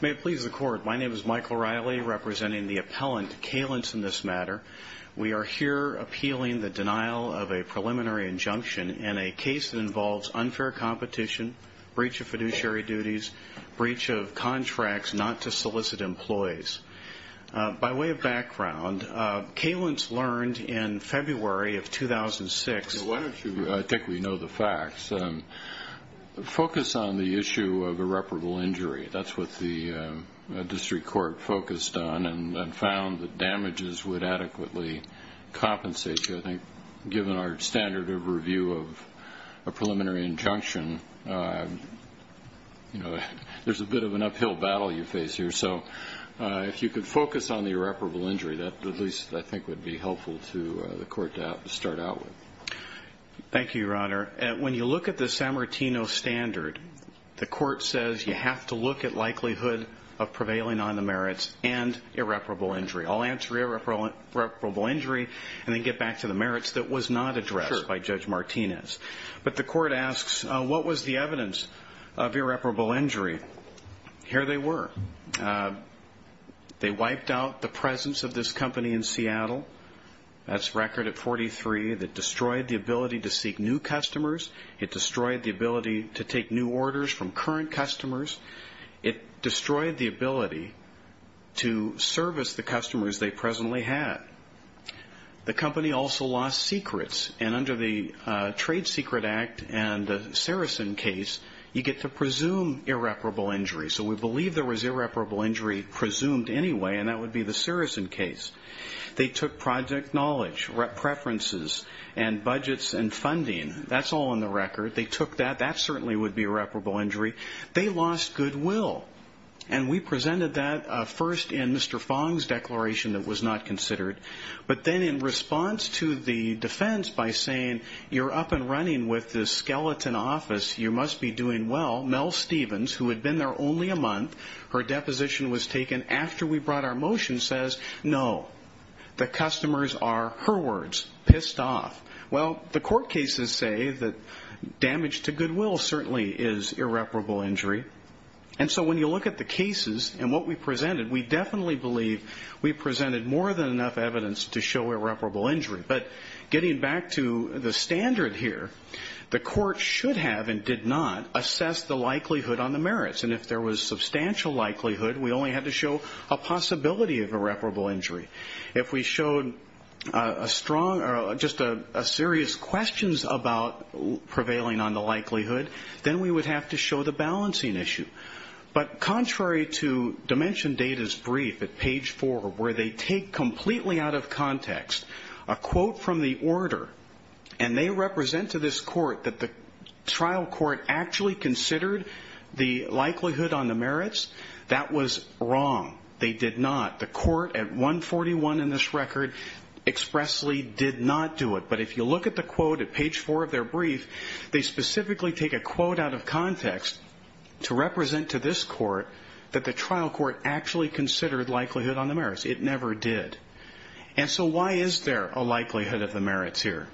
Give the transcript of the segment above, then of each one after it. May it please the Court, my name is Michael Riley, representing the appellant, Calence, in this matter. We are here appealing the denial of a preliminary injunction in a case that involves unfair competition, breach of fiduciary duties, breach of contracts not to solicit employees. By way of background, Calence learned in February of 2006... I think we know the facts. Focus on the issue of irreparable injury. That's what the district court focused on and found that damages would adequately compensate you. I think given our standard of review of a preliminary injunction, there's a bit of an uphill battle you face here. So if you could focus on the irreparable injury, that at least I think would be helpful to the Court to start out with. Thank you, Your Honor. When you look at the San Martino standard, the Court says you have to look at likelihood of prevailing on the merits and irreparable injury. I'll answer irreparable injury and then get back to the merits that was not addressed by Judge Martinez. But the Court asks, what was the evidence of irreparable injury? Here they were. They wiped out the presence of this company in Seattle. That's record at 43. It destroyed the ability to seek new customers. It destroyed the ability to take new orders from current customers. It destroyed the ability to service the customers they presently had. The company also lost secrets. Under the Trade Secret Act and the Irreparable Injury Act. So we believe there was irreparable injury presumed anyway and that would be the Sirison case. They took project knowledge, preferences, and budgets and funding. That's all in the record. They took that. That certainly would be irreparable injury. They lost goodwill. And we presented that first in Mr. Fong's declaration that was not considered. But then in response to the defense by saying you're up and running with this skeleton office, you must be doing well, Mel Stevens, who had been there only a month, her deposition was taken after we brought our motion, says no. The customers are, her words, pissed off. Well, the court cases say that damage to goodwill certainly is irreparable injury. And so when you look at the cases and what we presented, we definitely believe we presented more than enough evidence to show irreparable injury. But getting back to the standard here, the court should have and did not assess the likelihood on the merits. And if there was substantial likelihood, we only had to show a possibility of irreparable injury. If we showed a strong or just a serious questions about prevailing on the likelihood, then we would have to show the balancing issue. But contrary to Dimension Data's brief at context, a quote from the order, and they represent to this court that the trial court actually considered the likelihood on the merits, that was wrong. They did not. The court at 141 in this record expressly did not do it. But if you look at the quote at page 4 of their brief, they specifically take a quote out of context to represent to this And so why is there a likelihood of the merits here?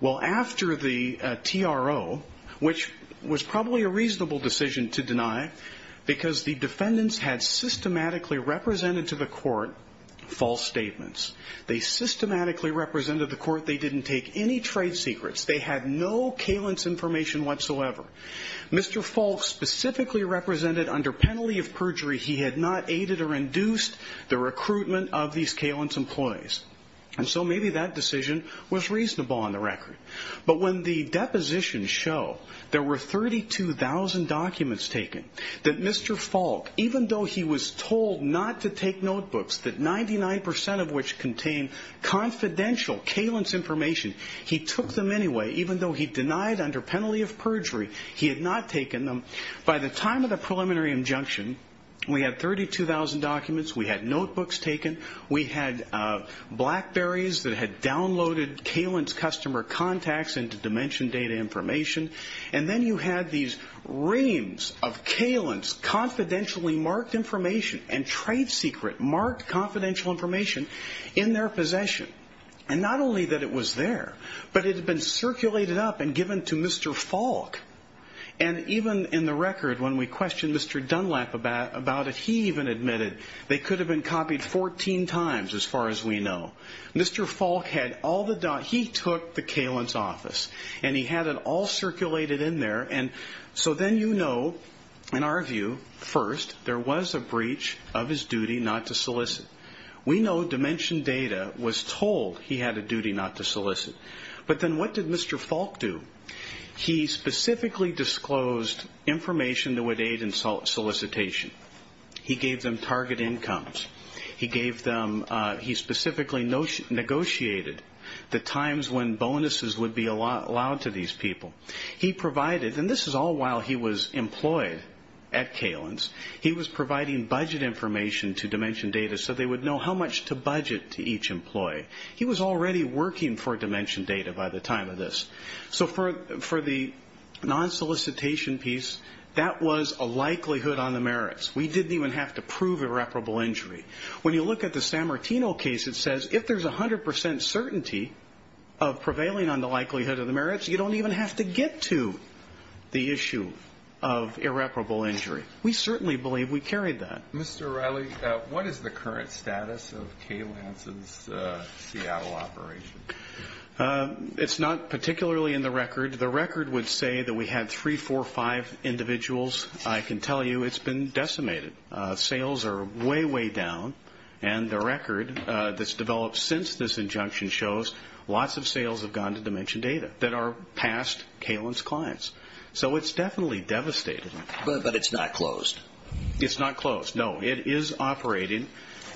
Well, after the TRO, which was probably a reasonable decision to deny, because the defendants had systematically represented to the court false statements. They systematically represented to the court they didn't take any trade secrets. They had no Kalins information whatsoever. Mr. Falk specifically represented under penalty of perjury, he had not aided or induced the recruitment of these Kalins employees. And so maybe that decision was reasonable on the record. But when the deposition show there were 32,000 documents taken that Mr. Falk, even though he was told not to take notebooks that 99% of which contain confidential Kalins information, he took them anyway, even though he denied under penalty of perjury, he had not taken them. By the time of the preliminary injunction, we had 32,000 documents. We had notebooks taken. We had BlackBerries that had downloaded Kalins customer contacts into dimension data information. And then you had these reams of Kalins confidentially marked information and trade secret marked confidential information in their possession. And not only that it was there, but it had been circulated up and given to Mr. Falk. And even in the record when we questioned Mr. Dunlap about it, he even admitted they could have been copied 14 times as far as we know. Mr. Falk had all the, he took the Kalins office and he had it all circulated in there. And so then you know, in our view, first there was a breach of his duty not to What did Mr. Falk do? He specifically disclosed information that would aid in solicitation. He gave them target incomes. He gave them, he specifically negotiated the times when bonuses would be allowed to these people. He provided, and this is all while he was employed at Kalins, he was providing budget information to dimension data so they would know how much to budget to each employee. He was already working for dimension data by the time of this. So for the non-solicitation piece, that was a likelihood on the merits. We didn't even have to prove irreparable injury. When you look at the San Martino case, it says if there's 100% certainty of prevailing on the likelihood of the merits, you don't even have to get to the issue of irreparable injury. We certainly believe we carried that. Mr. O'Reilly, what is the current status of Kalins' Seattle operation? It's not particularly in the record. The record would say that we had three, four, five individuals. I can tell you it's been decimated. Sales are way, way down. And the record that's developed since this injunction shows lots of sales have gone to dimension data that are past Kalins' clients. So it's definitely devastated. But it's not closed? It's not closed, no. It is operating.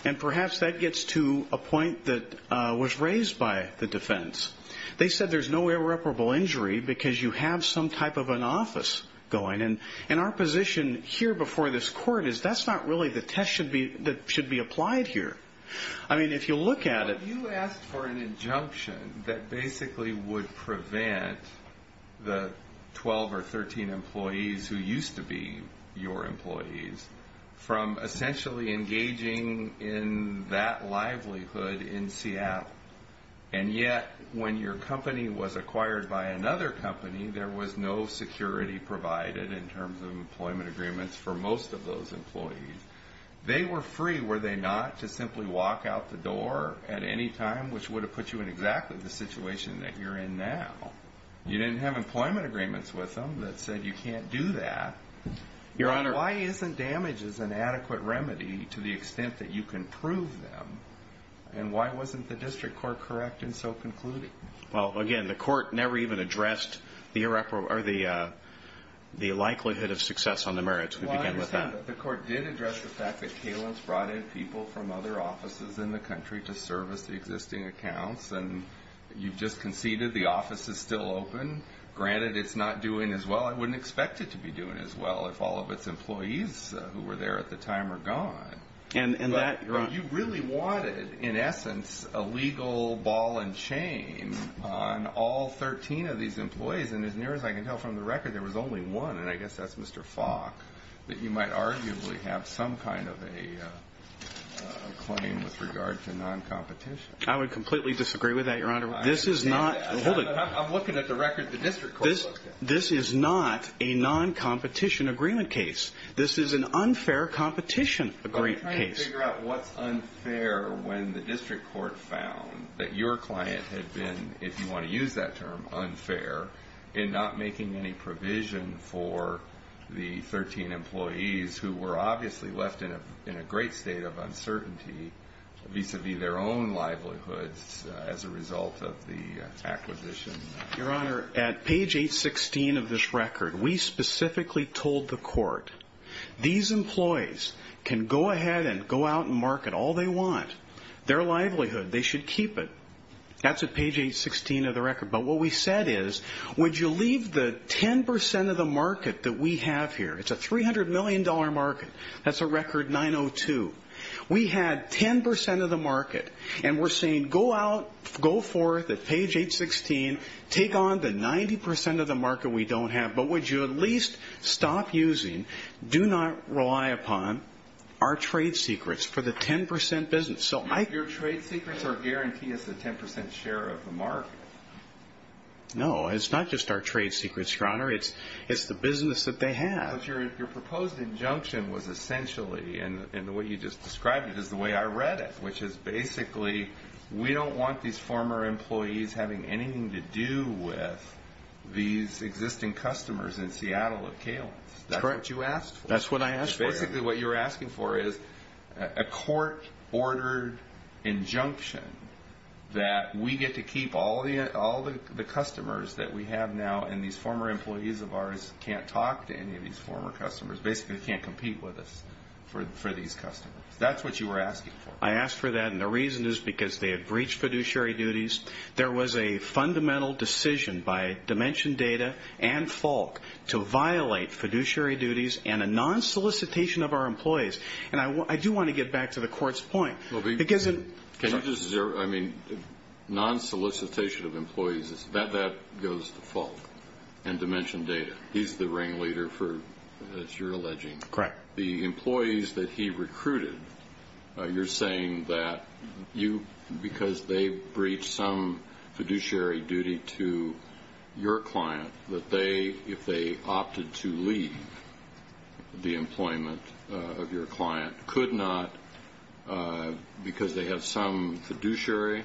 And perhaps that gets to a point that was raised by the defense. They said there's no irreparable injury because you have some type of an office going. And our position here before this court is that's not really the test that should be applied here. I mean, if you look at it... You asked for an injunction that basically would prevent the 12 or 13 employees who used to be your employees from essentially engaging in that livelihood in Seattle. And yet, when your company was acquired by another company, there was no security provided in terms of employment agreements for most of those employees. They were free, were they not, to simply walk out the door at any time, which would have put you in exactly the situation that you're in now. You didn't have employment agreements with them that said you can't do that. Your Honor... Why isn't damage is an adequate remedy to the extent that you can prove them? And why wasn't the district court correct in so concluding? Well, again, the court never even addressed the likelihood of success on the merits. We began with that. Well, I understand, but the court did address the fact that Kalins brought in people from other offices in the country to service the existing accounts. And you've just conceded the office is still open. Granted, it's not doing as well. I wouldn't expect it to be doing as well if all of its employees who were there at the time are gone. And that, Your Honor... You really wanted, in essence, a legal ball and chain on all 13 of these employees. And as near as I can tell from the record, there was only one, and I guess that's Mr. Falk, that you might arguably have some kind of a claim with regard to non-competition. I would completely disagree with that, Your Honor. This is not... I'm looking at the record the district court looked at. This is not a non-competition agreement case. This is an unfair competition case. I'm trying to figure out what's unfair when the district court found that your client had been, if you want to use that term, unfair in not making any provision for the 13 employees who were obviously left in a great state of uncertainty vis-a-vis their own livelihoods as a result of the acquisition. Your Honor, at page 816 of this record, we specifically told the court, these employees can go ahead and go out and market all they want, their livelihood. They should keep it. That's at page 816 of the record. But what we said is, would you leave the 10% of the market that we have here? It's a $300 million market. That's a record 902. We had 10% of the market, and we're saying, go out, go forth at page 816, take on the 90% of the market we don't have. But would you at least stop using, do not rely upon, our trade secrets for the 10% business? Your trade secrets are guaranteed as the 10% share of the market. No, it's not just our trade secrets, Your Honor. It's the business that they have. Your proposed injunction was essentially, and the way you just described it is the way I read it, which is basically, we don't want these former employees having anything to do with these existing customers in Seattle of Kalen's. That's what you asked for. That's what I asked for. Basically, what you're asking for is a court-ordered injunction that we get to keep all the customers that we have now, and these former employees of ours can't talk to any of these former customers. Basically, they can't compete with us for these customers. That's what you were asking for. I asked for that, and the reason is because they had breached fiduciary duties. There was a fundamental decision by Dimension Data and Falk to violate fiduciary duties and a non-solicitation of our employees. I do want to get back to the court's point. Non-solicitation of employees, that goes to Falk and Dimension Data. He's the ringleader for, as you're alleging, the employees that he recruited. You're saying that because they breached some fiduciary duty to your client, that if they opted to leave, the employees of your client could not, because they have some fiduciary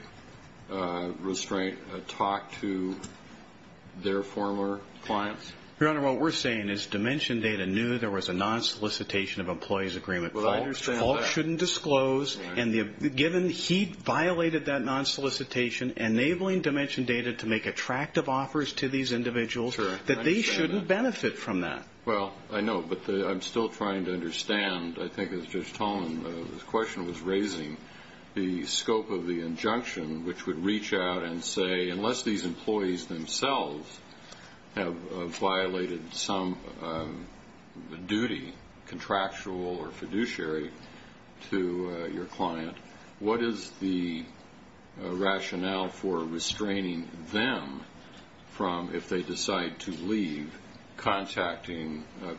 restraint, talk to their former clients? Your Honor, what we're saying is Dimension Data knew there was a non-solicitation of employees agreement. Falk shouldn't disclose. He violated that non-solicitation, enabling Dimension Data to make attractive offers to these individuals, that they shouldn't benefit from that. Well, I know, but I'm still trying to understand, I think, as Judge Tolman's question was raising, the scope of the injunction, which would reach out and say, unless these employees themselves have violated some duty, contractual or fiduciary, to your client, what is the rationale for hiring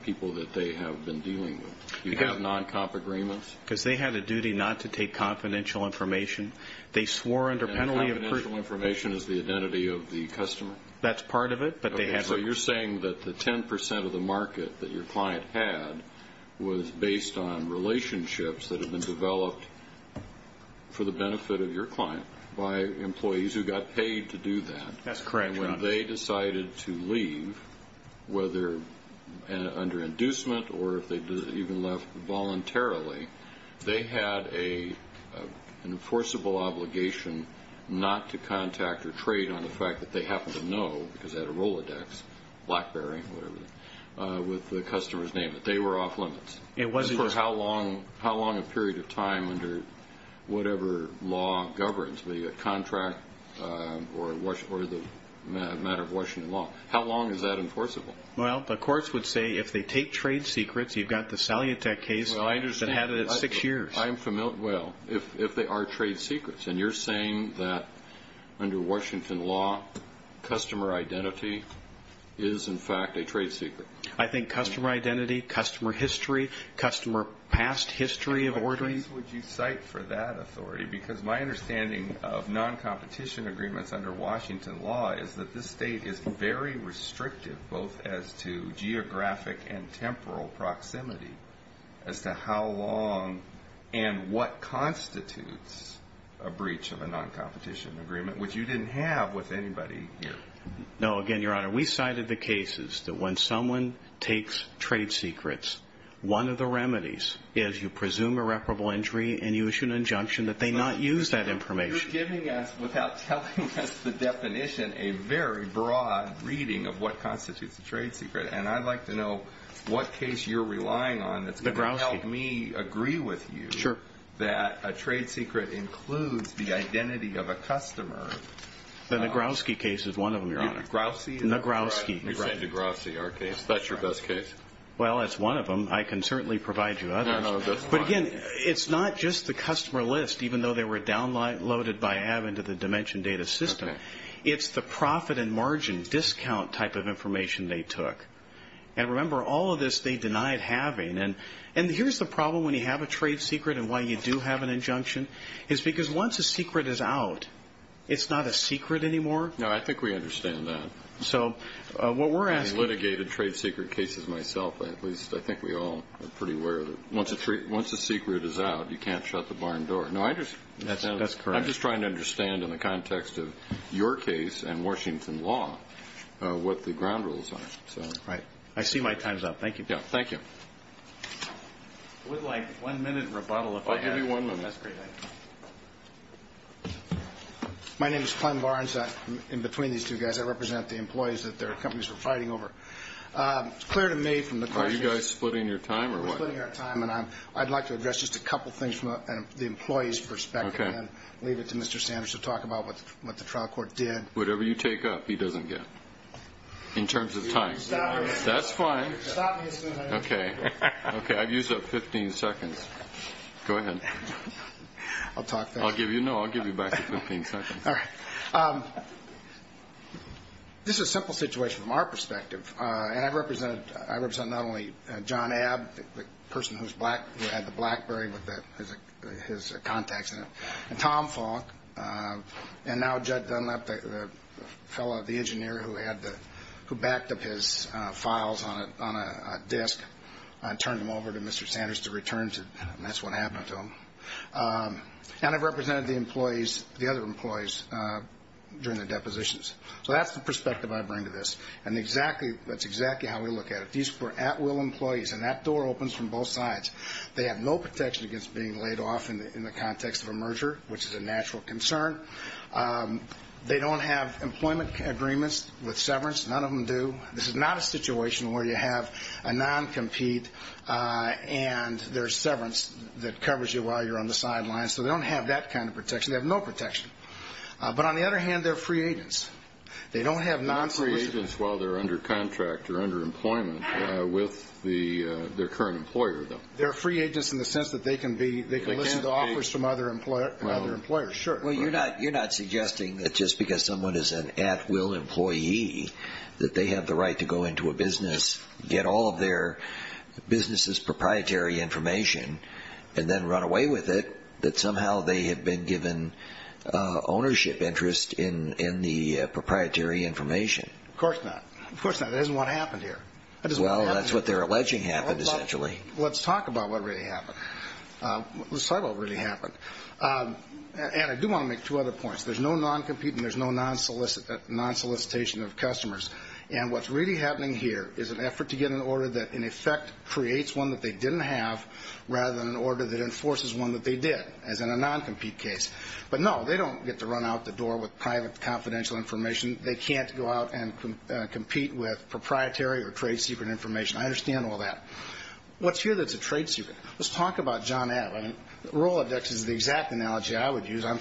people that they have been dealing with? Do you have non-comp agreements? Because they had a duty not to take confidential information. They swore under penalty of... And confidential information is the identity of the customer? That's part of it, but they have... So you're saying that the 10% of the market that your client had was based on relationships that have been developed for the benefit of your client, by employees who got paid to do that. That's correct, Your Honor. And when they decided to leave, whether under inducement or if they even left voluntarily, they had an enforceable obligation not to contact or trade on the fact that they happen to know, because they had a Rolodex, Blackberry, whatever, with the customer's name. They were off limits. It wasn't just... It wasn't just a matter of Washington law. How long is that enforceable? Well, the courts would say if they take trade secrets, you've got the Salyutek case that had it at six years. I understand. I'm familiar... Well, if they are trade secrets, and you're saying that under Washington law, customer identity is, in fact, a trade secret. I think customer identity, customer history, customer past history of ordering... What case would you cite for that authority? Because my understanding of non-competition agreements under Washington law is that this state is very restrictive, both as to geographic and temporal proximity as to how long and what constitutes a breach of a non-competition agreement, which you didn't have with anybody here. No. Again, Your Honor, we cited the cases that when someone takes trade secrets, one of the remedies is you presume irreparable injury, and you issue an injunction that they not use that information. You're giving us, without telling us the definition, a very broad reading of what constitutes a trade secret, and I'd like to know what case you're relying on that's going to help me agree with you that a trade secret includes the identity of a customer. The Nagrowski case is one of them, Your Honor. Nagrowski? Nagrowski. You're saying Nagrowski, our case. That's your best case. Well, it's one of them. I can certainly provide you others. No, no, that's fine. But again, it's not just the customer list, even though they were downloaded by Avin to the Dimension Data System. It's the profit and margin discount type of information they took. And remember, all of this they denied having. And here's the problem when you have a trade secret and why you do have an injunction, is because once a secret is out, it's not a secret anymore. No, I think we understand that. So what we're asking I've litigated trade secret cases myself. At least, I think we all are pretty aware that once a secret is out, you can't shut the barn door. No, I understand. That's correct. I'm just trying to understand in the context of your case and Washington law what the ground rules are. Right. I see my time's up. Thank you. Yeah, thank you. I would like one minute rebuttal if I had. I'll give you one minute. That's great. My name is Clem Barnes. In between these two guys, I represent the employees that their It's clear to me from the questions Are you guys splitting your time or what? We're splitting our time and I'd like to address just a couple things from the employee's perspective and leave it to Mr. Sanders to talk about what the trial court did. Whatever you take up, he doesn't get. In terms of time. Stop me. That's fine. Stop me as soon as I can. Okay. I've used up 15 seconds. Go ahead. I'll talk fast. No, I'll give you back the 15 seconds. All right. This is a simple situation from our perspective. And I represent not only John Abb, the person who had the BlackBerry with his contacts in it, and Tom Falk, and now Jud Dunlap, the fellow, the engineer who backed up his files on a disk and turned them over to Mr. Sanders to return to. And that's what happened to him. And I've represented the other employees during the depositions. So that's the perspective I bring to this. And that's exactly how we look at it. These were at-will employees. And that door opens from both sides. They have no protection against being laid off in the context of a merger, which is a natural concern. They don't have employment agreements with severance. None of them do. This is not a situation where you have a non-compete and there's severance that covers you while you're on the sidelines. So they don't have that kind of protection. They have no protection. But on the other hand, they're free agents. They don't have non-solicitation. They're not free agents while they're under contract or under employment with their current employer, though. They're free agents in the sense that they can listen to offers from other employers. Well, you're not suggesting that just because someone is an at-will employee that they have the right to go into a business, get all of their business's proprietary information, and then run away with it, that somehow they have been given ownership interest in the proprietary information? Of course not. Of course not. That isn't what happened here. Well, that's what they're alleging happened, essentially. Let's talk about what really happened. Let's talk about what really happened. And I do want to make two other points. There's no non-compete and there's no non-solicitation of customers. And what's really happening here is an effort to get an order that, in effect, creates one that they didn't have rather than an order that enforces one that they did, as in a non-compete case. But, no, they don't get to run out the door with private confidential information. They can't go out and compete with proprietary or trade secret information. I understand all that. What's here that's a trade secret? Let's talk about John Allen. Rolodex is the exact analogy I would use. I'm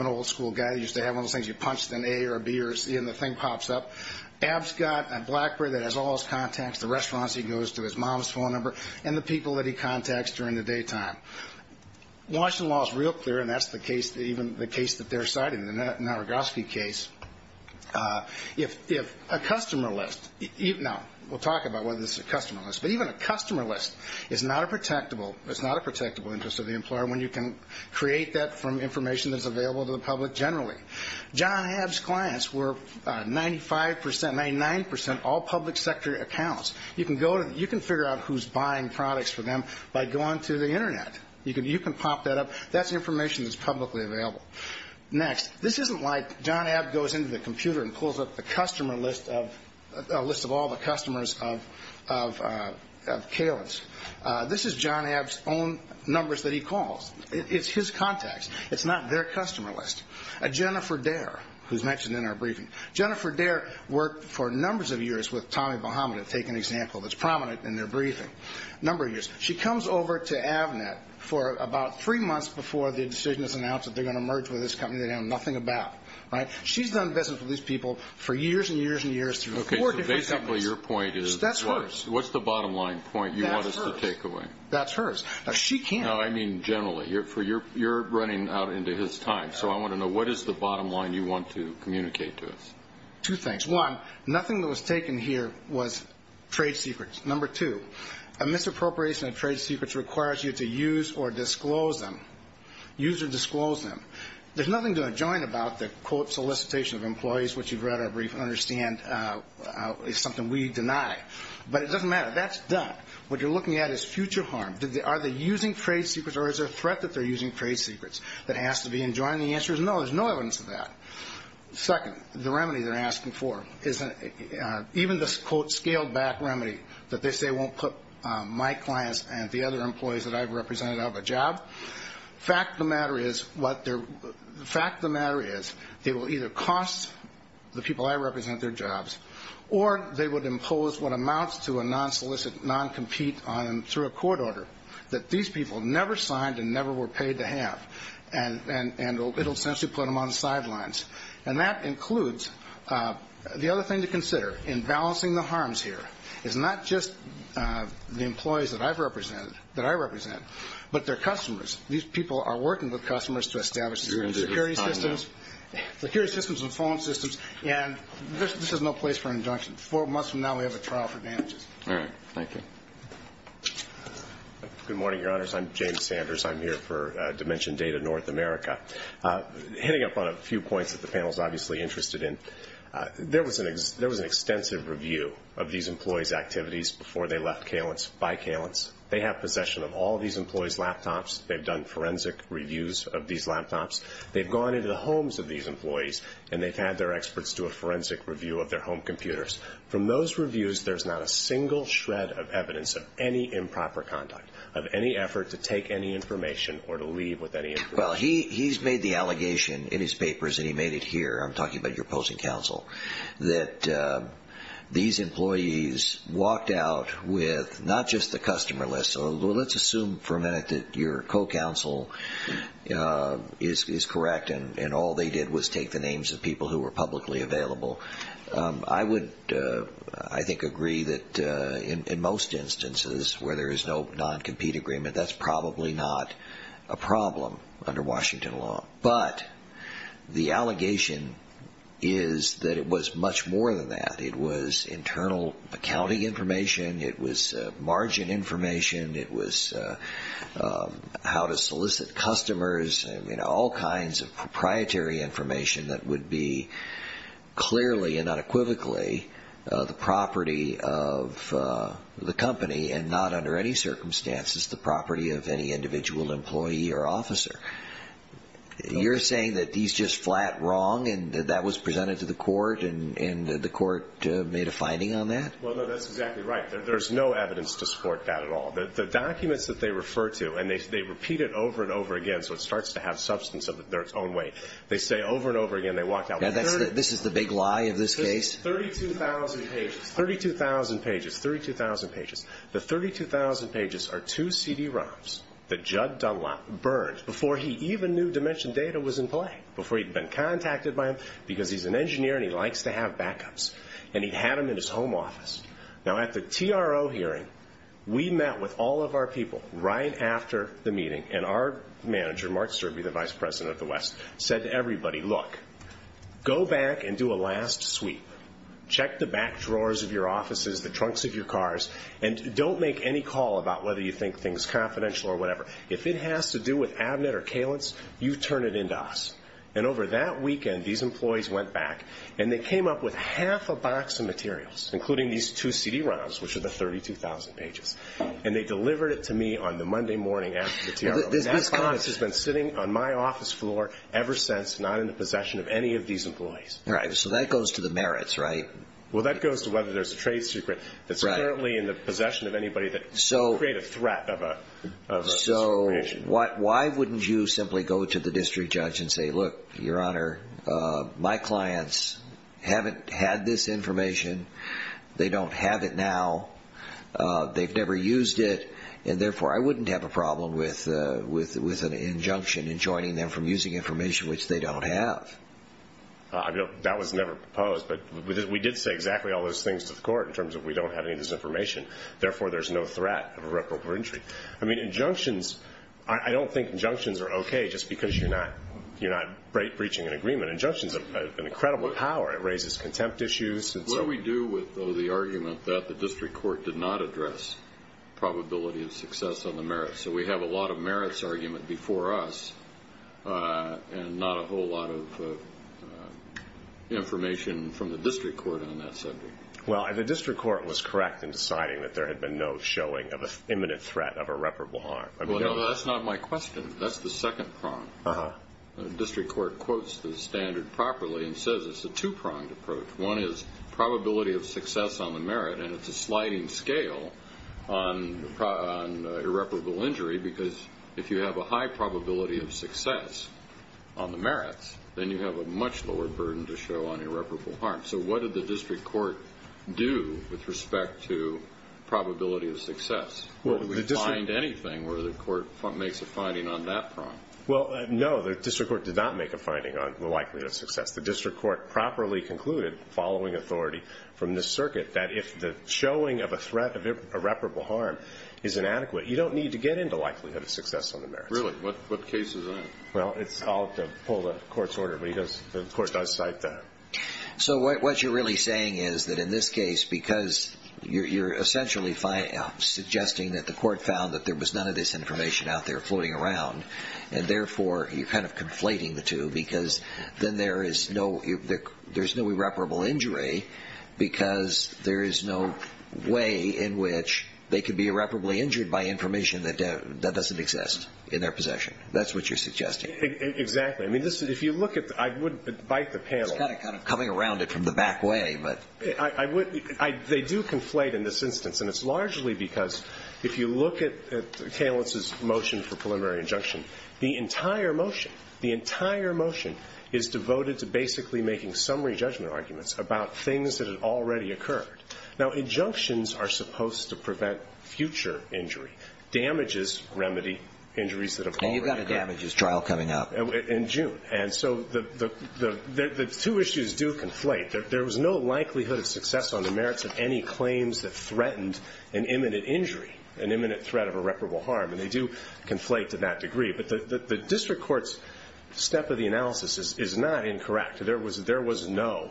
an old-school guy who used to have one of those things. You punched an A or a B or a C and the thing pops up. Ab's got a Blackberry that has all his contacts, the restaurants he goes to, his mom's phone number, and the people that he contacts during the daytime. Washington law is real clear, and that's the case that they're citing, the Naragoski case. If a customer list, now we'll talk about whether this is a customer list, but even a customer list is not a protectable interest of the employer when you can create that from information that's available to the public generally. John Ab's clients were 95%, 99% all public sector accounts. You can figure out who's buying products for them by going to the Internet. You can pop that up. That's information that's publicly available. Next, this isn't like John Ab goes into the computer and pulls up a list of all the customers of Kalen's. This is John Ab's own numbers that he calls. It's his contacts. It's not their customer list. Jennifer Dare, who's mentioned in our briefing, Jennifer Dare worked for numbers of years with Tommy Bahama, to take an example, that's prominent in their briefing, a number of years. She comes over to Avnet for about three months before the decision is announced that they're going to merge with this company they know nothing about. She's done business with these people for years and years and years through four different companies. Basically, your point is what's the bottom line point you want us to take away? That's hers. She can't. No, I mean generally. You're running out into his time, so I want to know what is the bottom line you want to communicate to us. Two things. One, nothing that was taken here was trade secrets. Number two, a misappropriation of trade secrets requires you to use or disclose them. Use or disclose them. There's nothing to enjoin about the, quote, solicitation of employees, which you've read our brief and understand is something we deny. But it doesn't matter. That's done. What you're looking at is future harm. Are they using trade secrets or is there a threat that they're using trade secrets that has to be enjoined? The answer is no. There's no evidence of that. Second, the remedy they're asking for is even this, quote, fact of the matter is they will either cost the people I represent their jobs or they would impose what amounts to a non-solicit, non-compete through a court order that these people never signed and never were paid to have, and it will essentially put them on the sidelines. And that includes the other thing to consider in balancing the harms here is not just the employees that I represent but their customers. These people are working with customers to establish security systems and phone systems, and this is no place for an injunction. Four months from now we have a trial for damages. All right. Thank you. Good morning, Your Honors. I'm James Sanders. I'm here for Dimension Data North America. Heading up on a few points that the panel is obviously interested in, there was an extensive review of these employees' activities before they left Kalins, by Kalins. They have possession of all these employees' laptops. They've done forensic reviews of these laptops. They've gone into the homes of these employees, and they've had their experts do a forensic review of their home computers. From those reviews, there's not a single shred of evidence of any improper conduct, of any effort to take any information or to leave with any information. Well, he's made the allegation in his papers, and he made it here. I'm talking about your opposing counsel, that these employees walked out with not just the customer list, so let's assume for a minute that your co-counsel is correct and all they did was take the names of people who were publicly available. I would, I think, agree that in most instances where there is no non-compete agreement, that's probably not a problem under Washington law. But the allegation is that it was much more than that. It was internal accounting information. It was margin information. It was how to solicit customers, all kinds of proprietary information that would be clearly and unequivocally the property of the company and not under any circumstances the property of any individual employee or officer. You're saying that he's just flat wrong and that that was presented to the court and the court made a finding on that? Well, no, that's exactly right. There's no evidence to support that at all. The documents that they refer to, and they repeat it over and over again so it starts to have substance of their own way, they say over and over again they walked out with 30. This is the big lie of this case? 32,000 pages, 32,000 pages, 32,000 pages. The 32,000 pages are two CD-ROMs that Judd Dunlop burned before he even knew Dimension Data was in play, before he'd been contacted by them because he's an engineer and he likes to have backups. And he had them in his home office. Now, at the TRO hearing, we met with all of our people right after the meeting, and our manager, Mark Sturbey, the Vice President of the West, said to everybody, Look, go back and do a last sweep. Check the back drawers of your offices, the trunks of your cars, and don't make any call about whether you think things confidential or whatever. If it has to do with Abnett or Kalins, you turn it in to us. And over that weekend, these employees went back and they came up with half a box of materials, including these two CD-ROMs, which are the 32,000 pages, and they delivered it to me on the Monday morning after the TRO. And that box has been sitting on my office floor ever since, not in the possession of any of these employees. Right. So that goes to the merits, right? Well, that goes to whether there's a trade secret that's currently in the possession of anybody that could create a threat of discrimination. So why wouldn't you simply go to the district judge and say, Look, Your Honor, my clients haven't had this information. They don't have it now. They've never used it. And therefore, I wouldn't have a problem with an injunction enjoining them from using information which they don't have. That was never proposed. But we did say exactly all those things to the court in terms of we don't have any of this information. Therefore, there's no threat of irreparable injury. I mean, injunctions, I don't think injunctions are okay just because you're not breaching an agreement. Injunctions have an incredible power. It raises contempt issues. What do we do with, though, the argument that the district court did not address probability of success on the merits? So we have a lot of merits argument before us and not a whole lot of information from the district court on that subject. Well, the district court was correct in deciding that there had been no showing of an imminent threat of irreparable harm. Well, no, that's not my question. That's the second prong. The district court quotes the standard properly and says it's a two-pronged approach. One is probability of success on the merit, and it's a sliding scale on irreparable injury because if you have a high probability of success on the merits, then you have a much lower burden to show on irreparable harm. So what did the district court do with respect to probability of success? Did we find anything where the court makes a finding on that prong? Well, no, the district court did not make a finding on the likelihood of success. The district court properly concluded, following authority from the circuit, that if the showing of a threat of irreparable harm is inadequate, you don't need to get into likelihood of success on the merits. Really? What case is that? Well, I'll have to pull the court's order, but the court does cite that. So what you're really saying is that in this case, because you're essentially suggesting that the court found that there was none of this information out there floating around, and therefore you're kind of conflating the two, because then there is no irreparable injury because there is no way in which they could be irreparably injured by information that doesn't exist in their possession. That's what you're suggesting. Exactly. I mean, if you look at the – I would bite the panel. I'm just kind of coming around it from the back way, but – I would – they do conflate in this instance, and it's largely because if you look at Kalinz's motion for preliminary injunction, the entire motion, the entire motion is devoted to basically making summary judgment arguments about things that had already occurred. Now, injunctions are supposed to prevent future injury, damages remedy injuries that have already occurred. And you've got a damages trial coming up. In June. And so the two issues do conflate. There was no likelihood of success on the merits of any claims that threatened an imminent injury, an imminent threat of irreparable harm, and they do conflate to that degree. But the district court's step of the analysis is not incorrect. There was no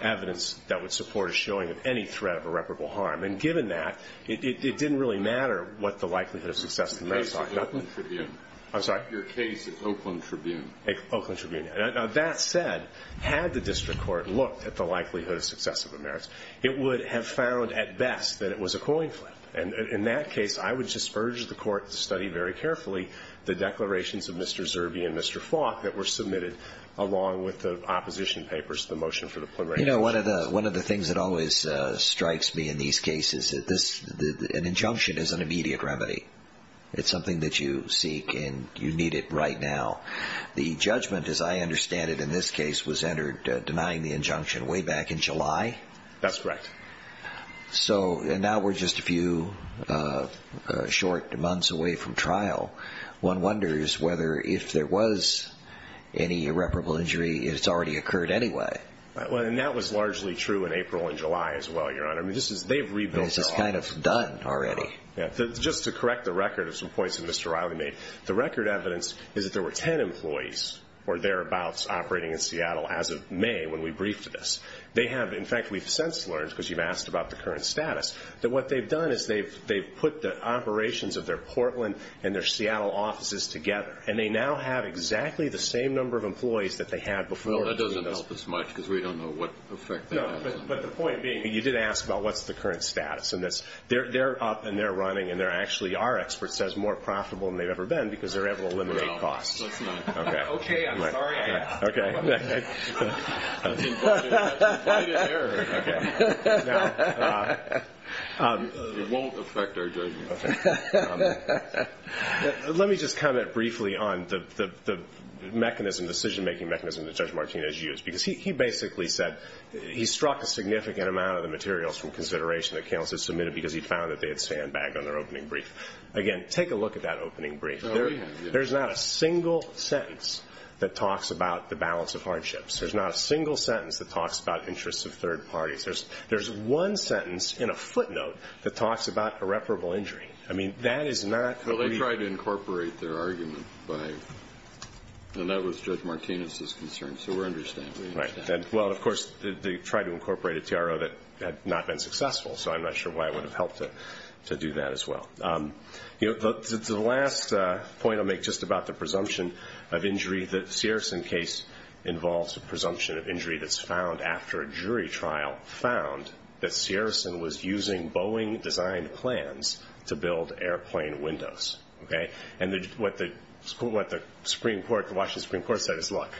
evidence that would support a showing of any threat of irreparable harm. And given that, it didn't really matter what the likelihood of success was. Your case at Oakland Tribune. I'm sorry? Your case at Oakland Tribune. Oakland Tribune. Now, that said, had the district court looked at the likelihood of success of the merits, it would have found at best that it was a coin flip. And in that case, I would just urge the court to study very carefully the declarations of Mr. Zerbe and Mr. Falk that were submitted along with the opposition papers, the motion for the preliminary injunction. You know, one of the things that always strikes me in these cases, an injunction is an immediate remedy. It's something that you seek and you need it right now. The judgment, as I understand it in this case, was entered denying the injunction way back in July. That's correct. So now we're just a few short months away from trial. One wonders whether if there was any irreparable injury, it's already occurred anyway. Well, and that was largely true in April and July as well, Your Honor. I mean, they've rebuilt their office. This is kind of done already. Just to correct the record of some points that Mr. Riley made, the record evidence is that there were ten employees or thereabouts operating in Seattle as of May when we briefed this. In fact, we've since learned, because you've asked about the current status, that what they've done is they've put the operations of their Portland and their Seattle offices together, and they now have exactly the same number of employees that they had before. Well, that doesn't help us much because we don't know what effect that has. No, but the point being, you did ask about what's the current status, and they're up and they're running, and they actually are, experts say, more profitable than they've ever been because they're able to eliminate costs. No, that's not true. Okay. Okay, I'm sorry I asked. Okay. That's important. That's the point of error. Okay. Now. It won't affect our judgment. Okay. Let me just comment briefly on the mechanism, the decision-making mechanism that Judge Martinez used, because he basically said he struck a significant amount of the materials from consideration that Cale has submitted, because he found that they had sandbagged on their opening brief. Again, take a look at that opening brief. There's not a single sentence that talks about the balance of hardships. There's not a single sentence that talks about interests of third parties. There's one sentence in a footnote that talks about irreparable injury. I mean, that is not. Well, they tried to incorporate their argument, and that was Judge Martinez's concern, so we understand. Right. And, well, of course, they tried to incorporate a TRO that had not been successful, so I'm not sure why it would have helped to do that as well. The last point I'll make, just about the presumption of injury, the Ciarasen case involves a presumption of injury that's found after a jury trial found that Ciarasen was using Boeing-designed plans to build airplane windows. Okay. And what the Supreme Court, the Washington Supreme Court, said is, Look,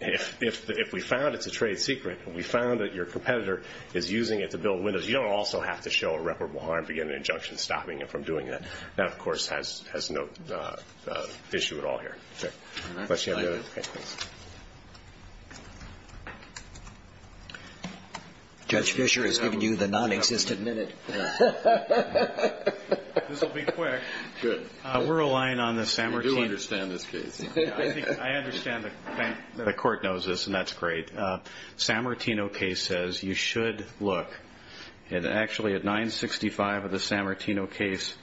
if we found it's a trade secret, and we found that your competitor is using it to build windows, you don't also have to show irreparable harm to get an injunction stopping you from doing that. That, of course, has no issue at all here. Okay. Unless you have another. Okay, thanks. Judge Fischer has given you the non-existent minute. This will be quick. Good. We're relying on the San Martin. You do understand this case. I understand the court knows this, and that's great. San Martino case says you should look, and actually at 965 of the San Martino case,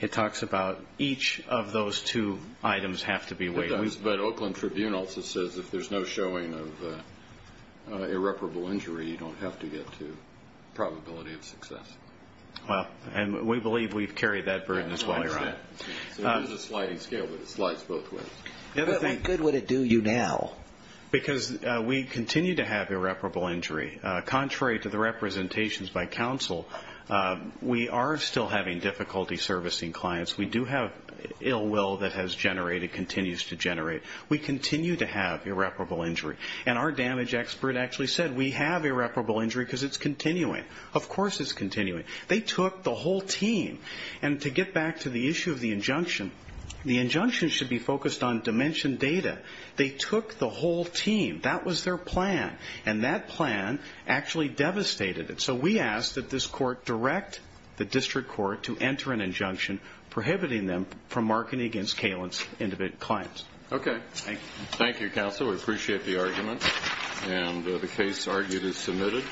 it talks about each of those two items have to be weighed. But Oakland Tribune also says if there's no showing of irreparable injury, you don't have to get to probability of success. Well, and we believe we've carried that burden as well, Your Honor. So there's a sliding scale that the slide spoke with. How good would it do you now? Because we continue to have irreparable injury. Contrary to the representations by counsel, we are still having difficulty servicing clients. We do have ill will that has generated, continues to generate. We continue to have irreparable injury. And our damage expert actually said we have irreparable injury because it's continuing. Of course it's continuing. They took the whole team. And to get back to the issue of the injunction, the injunction should be focused on dimension data. They took the whole team. That was their plan. And that plan actually devastated it. So we ask that this court direct the district court to enter an injunction prohibiting them from marketing against Kalen's independent clients. Okay. Thank you. Thank you, counsel. We appreciate the argument. And the case argued is submitted.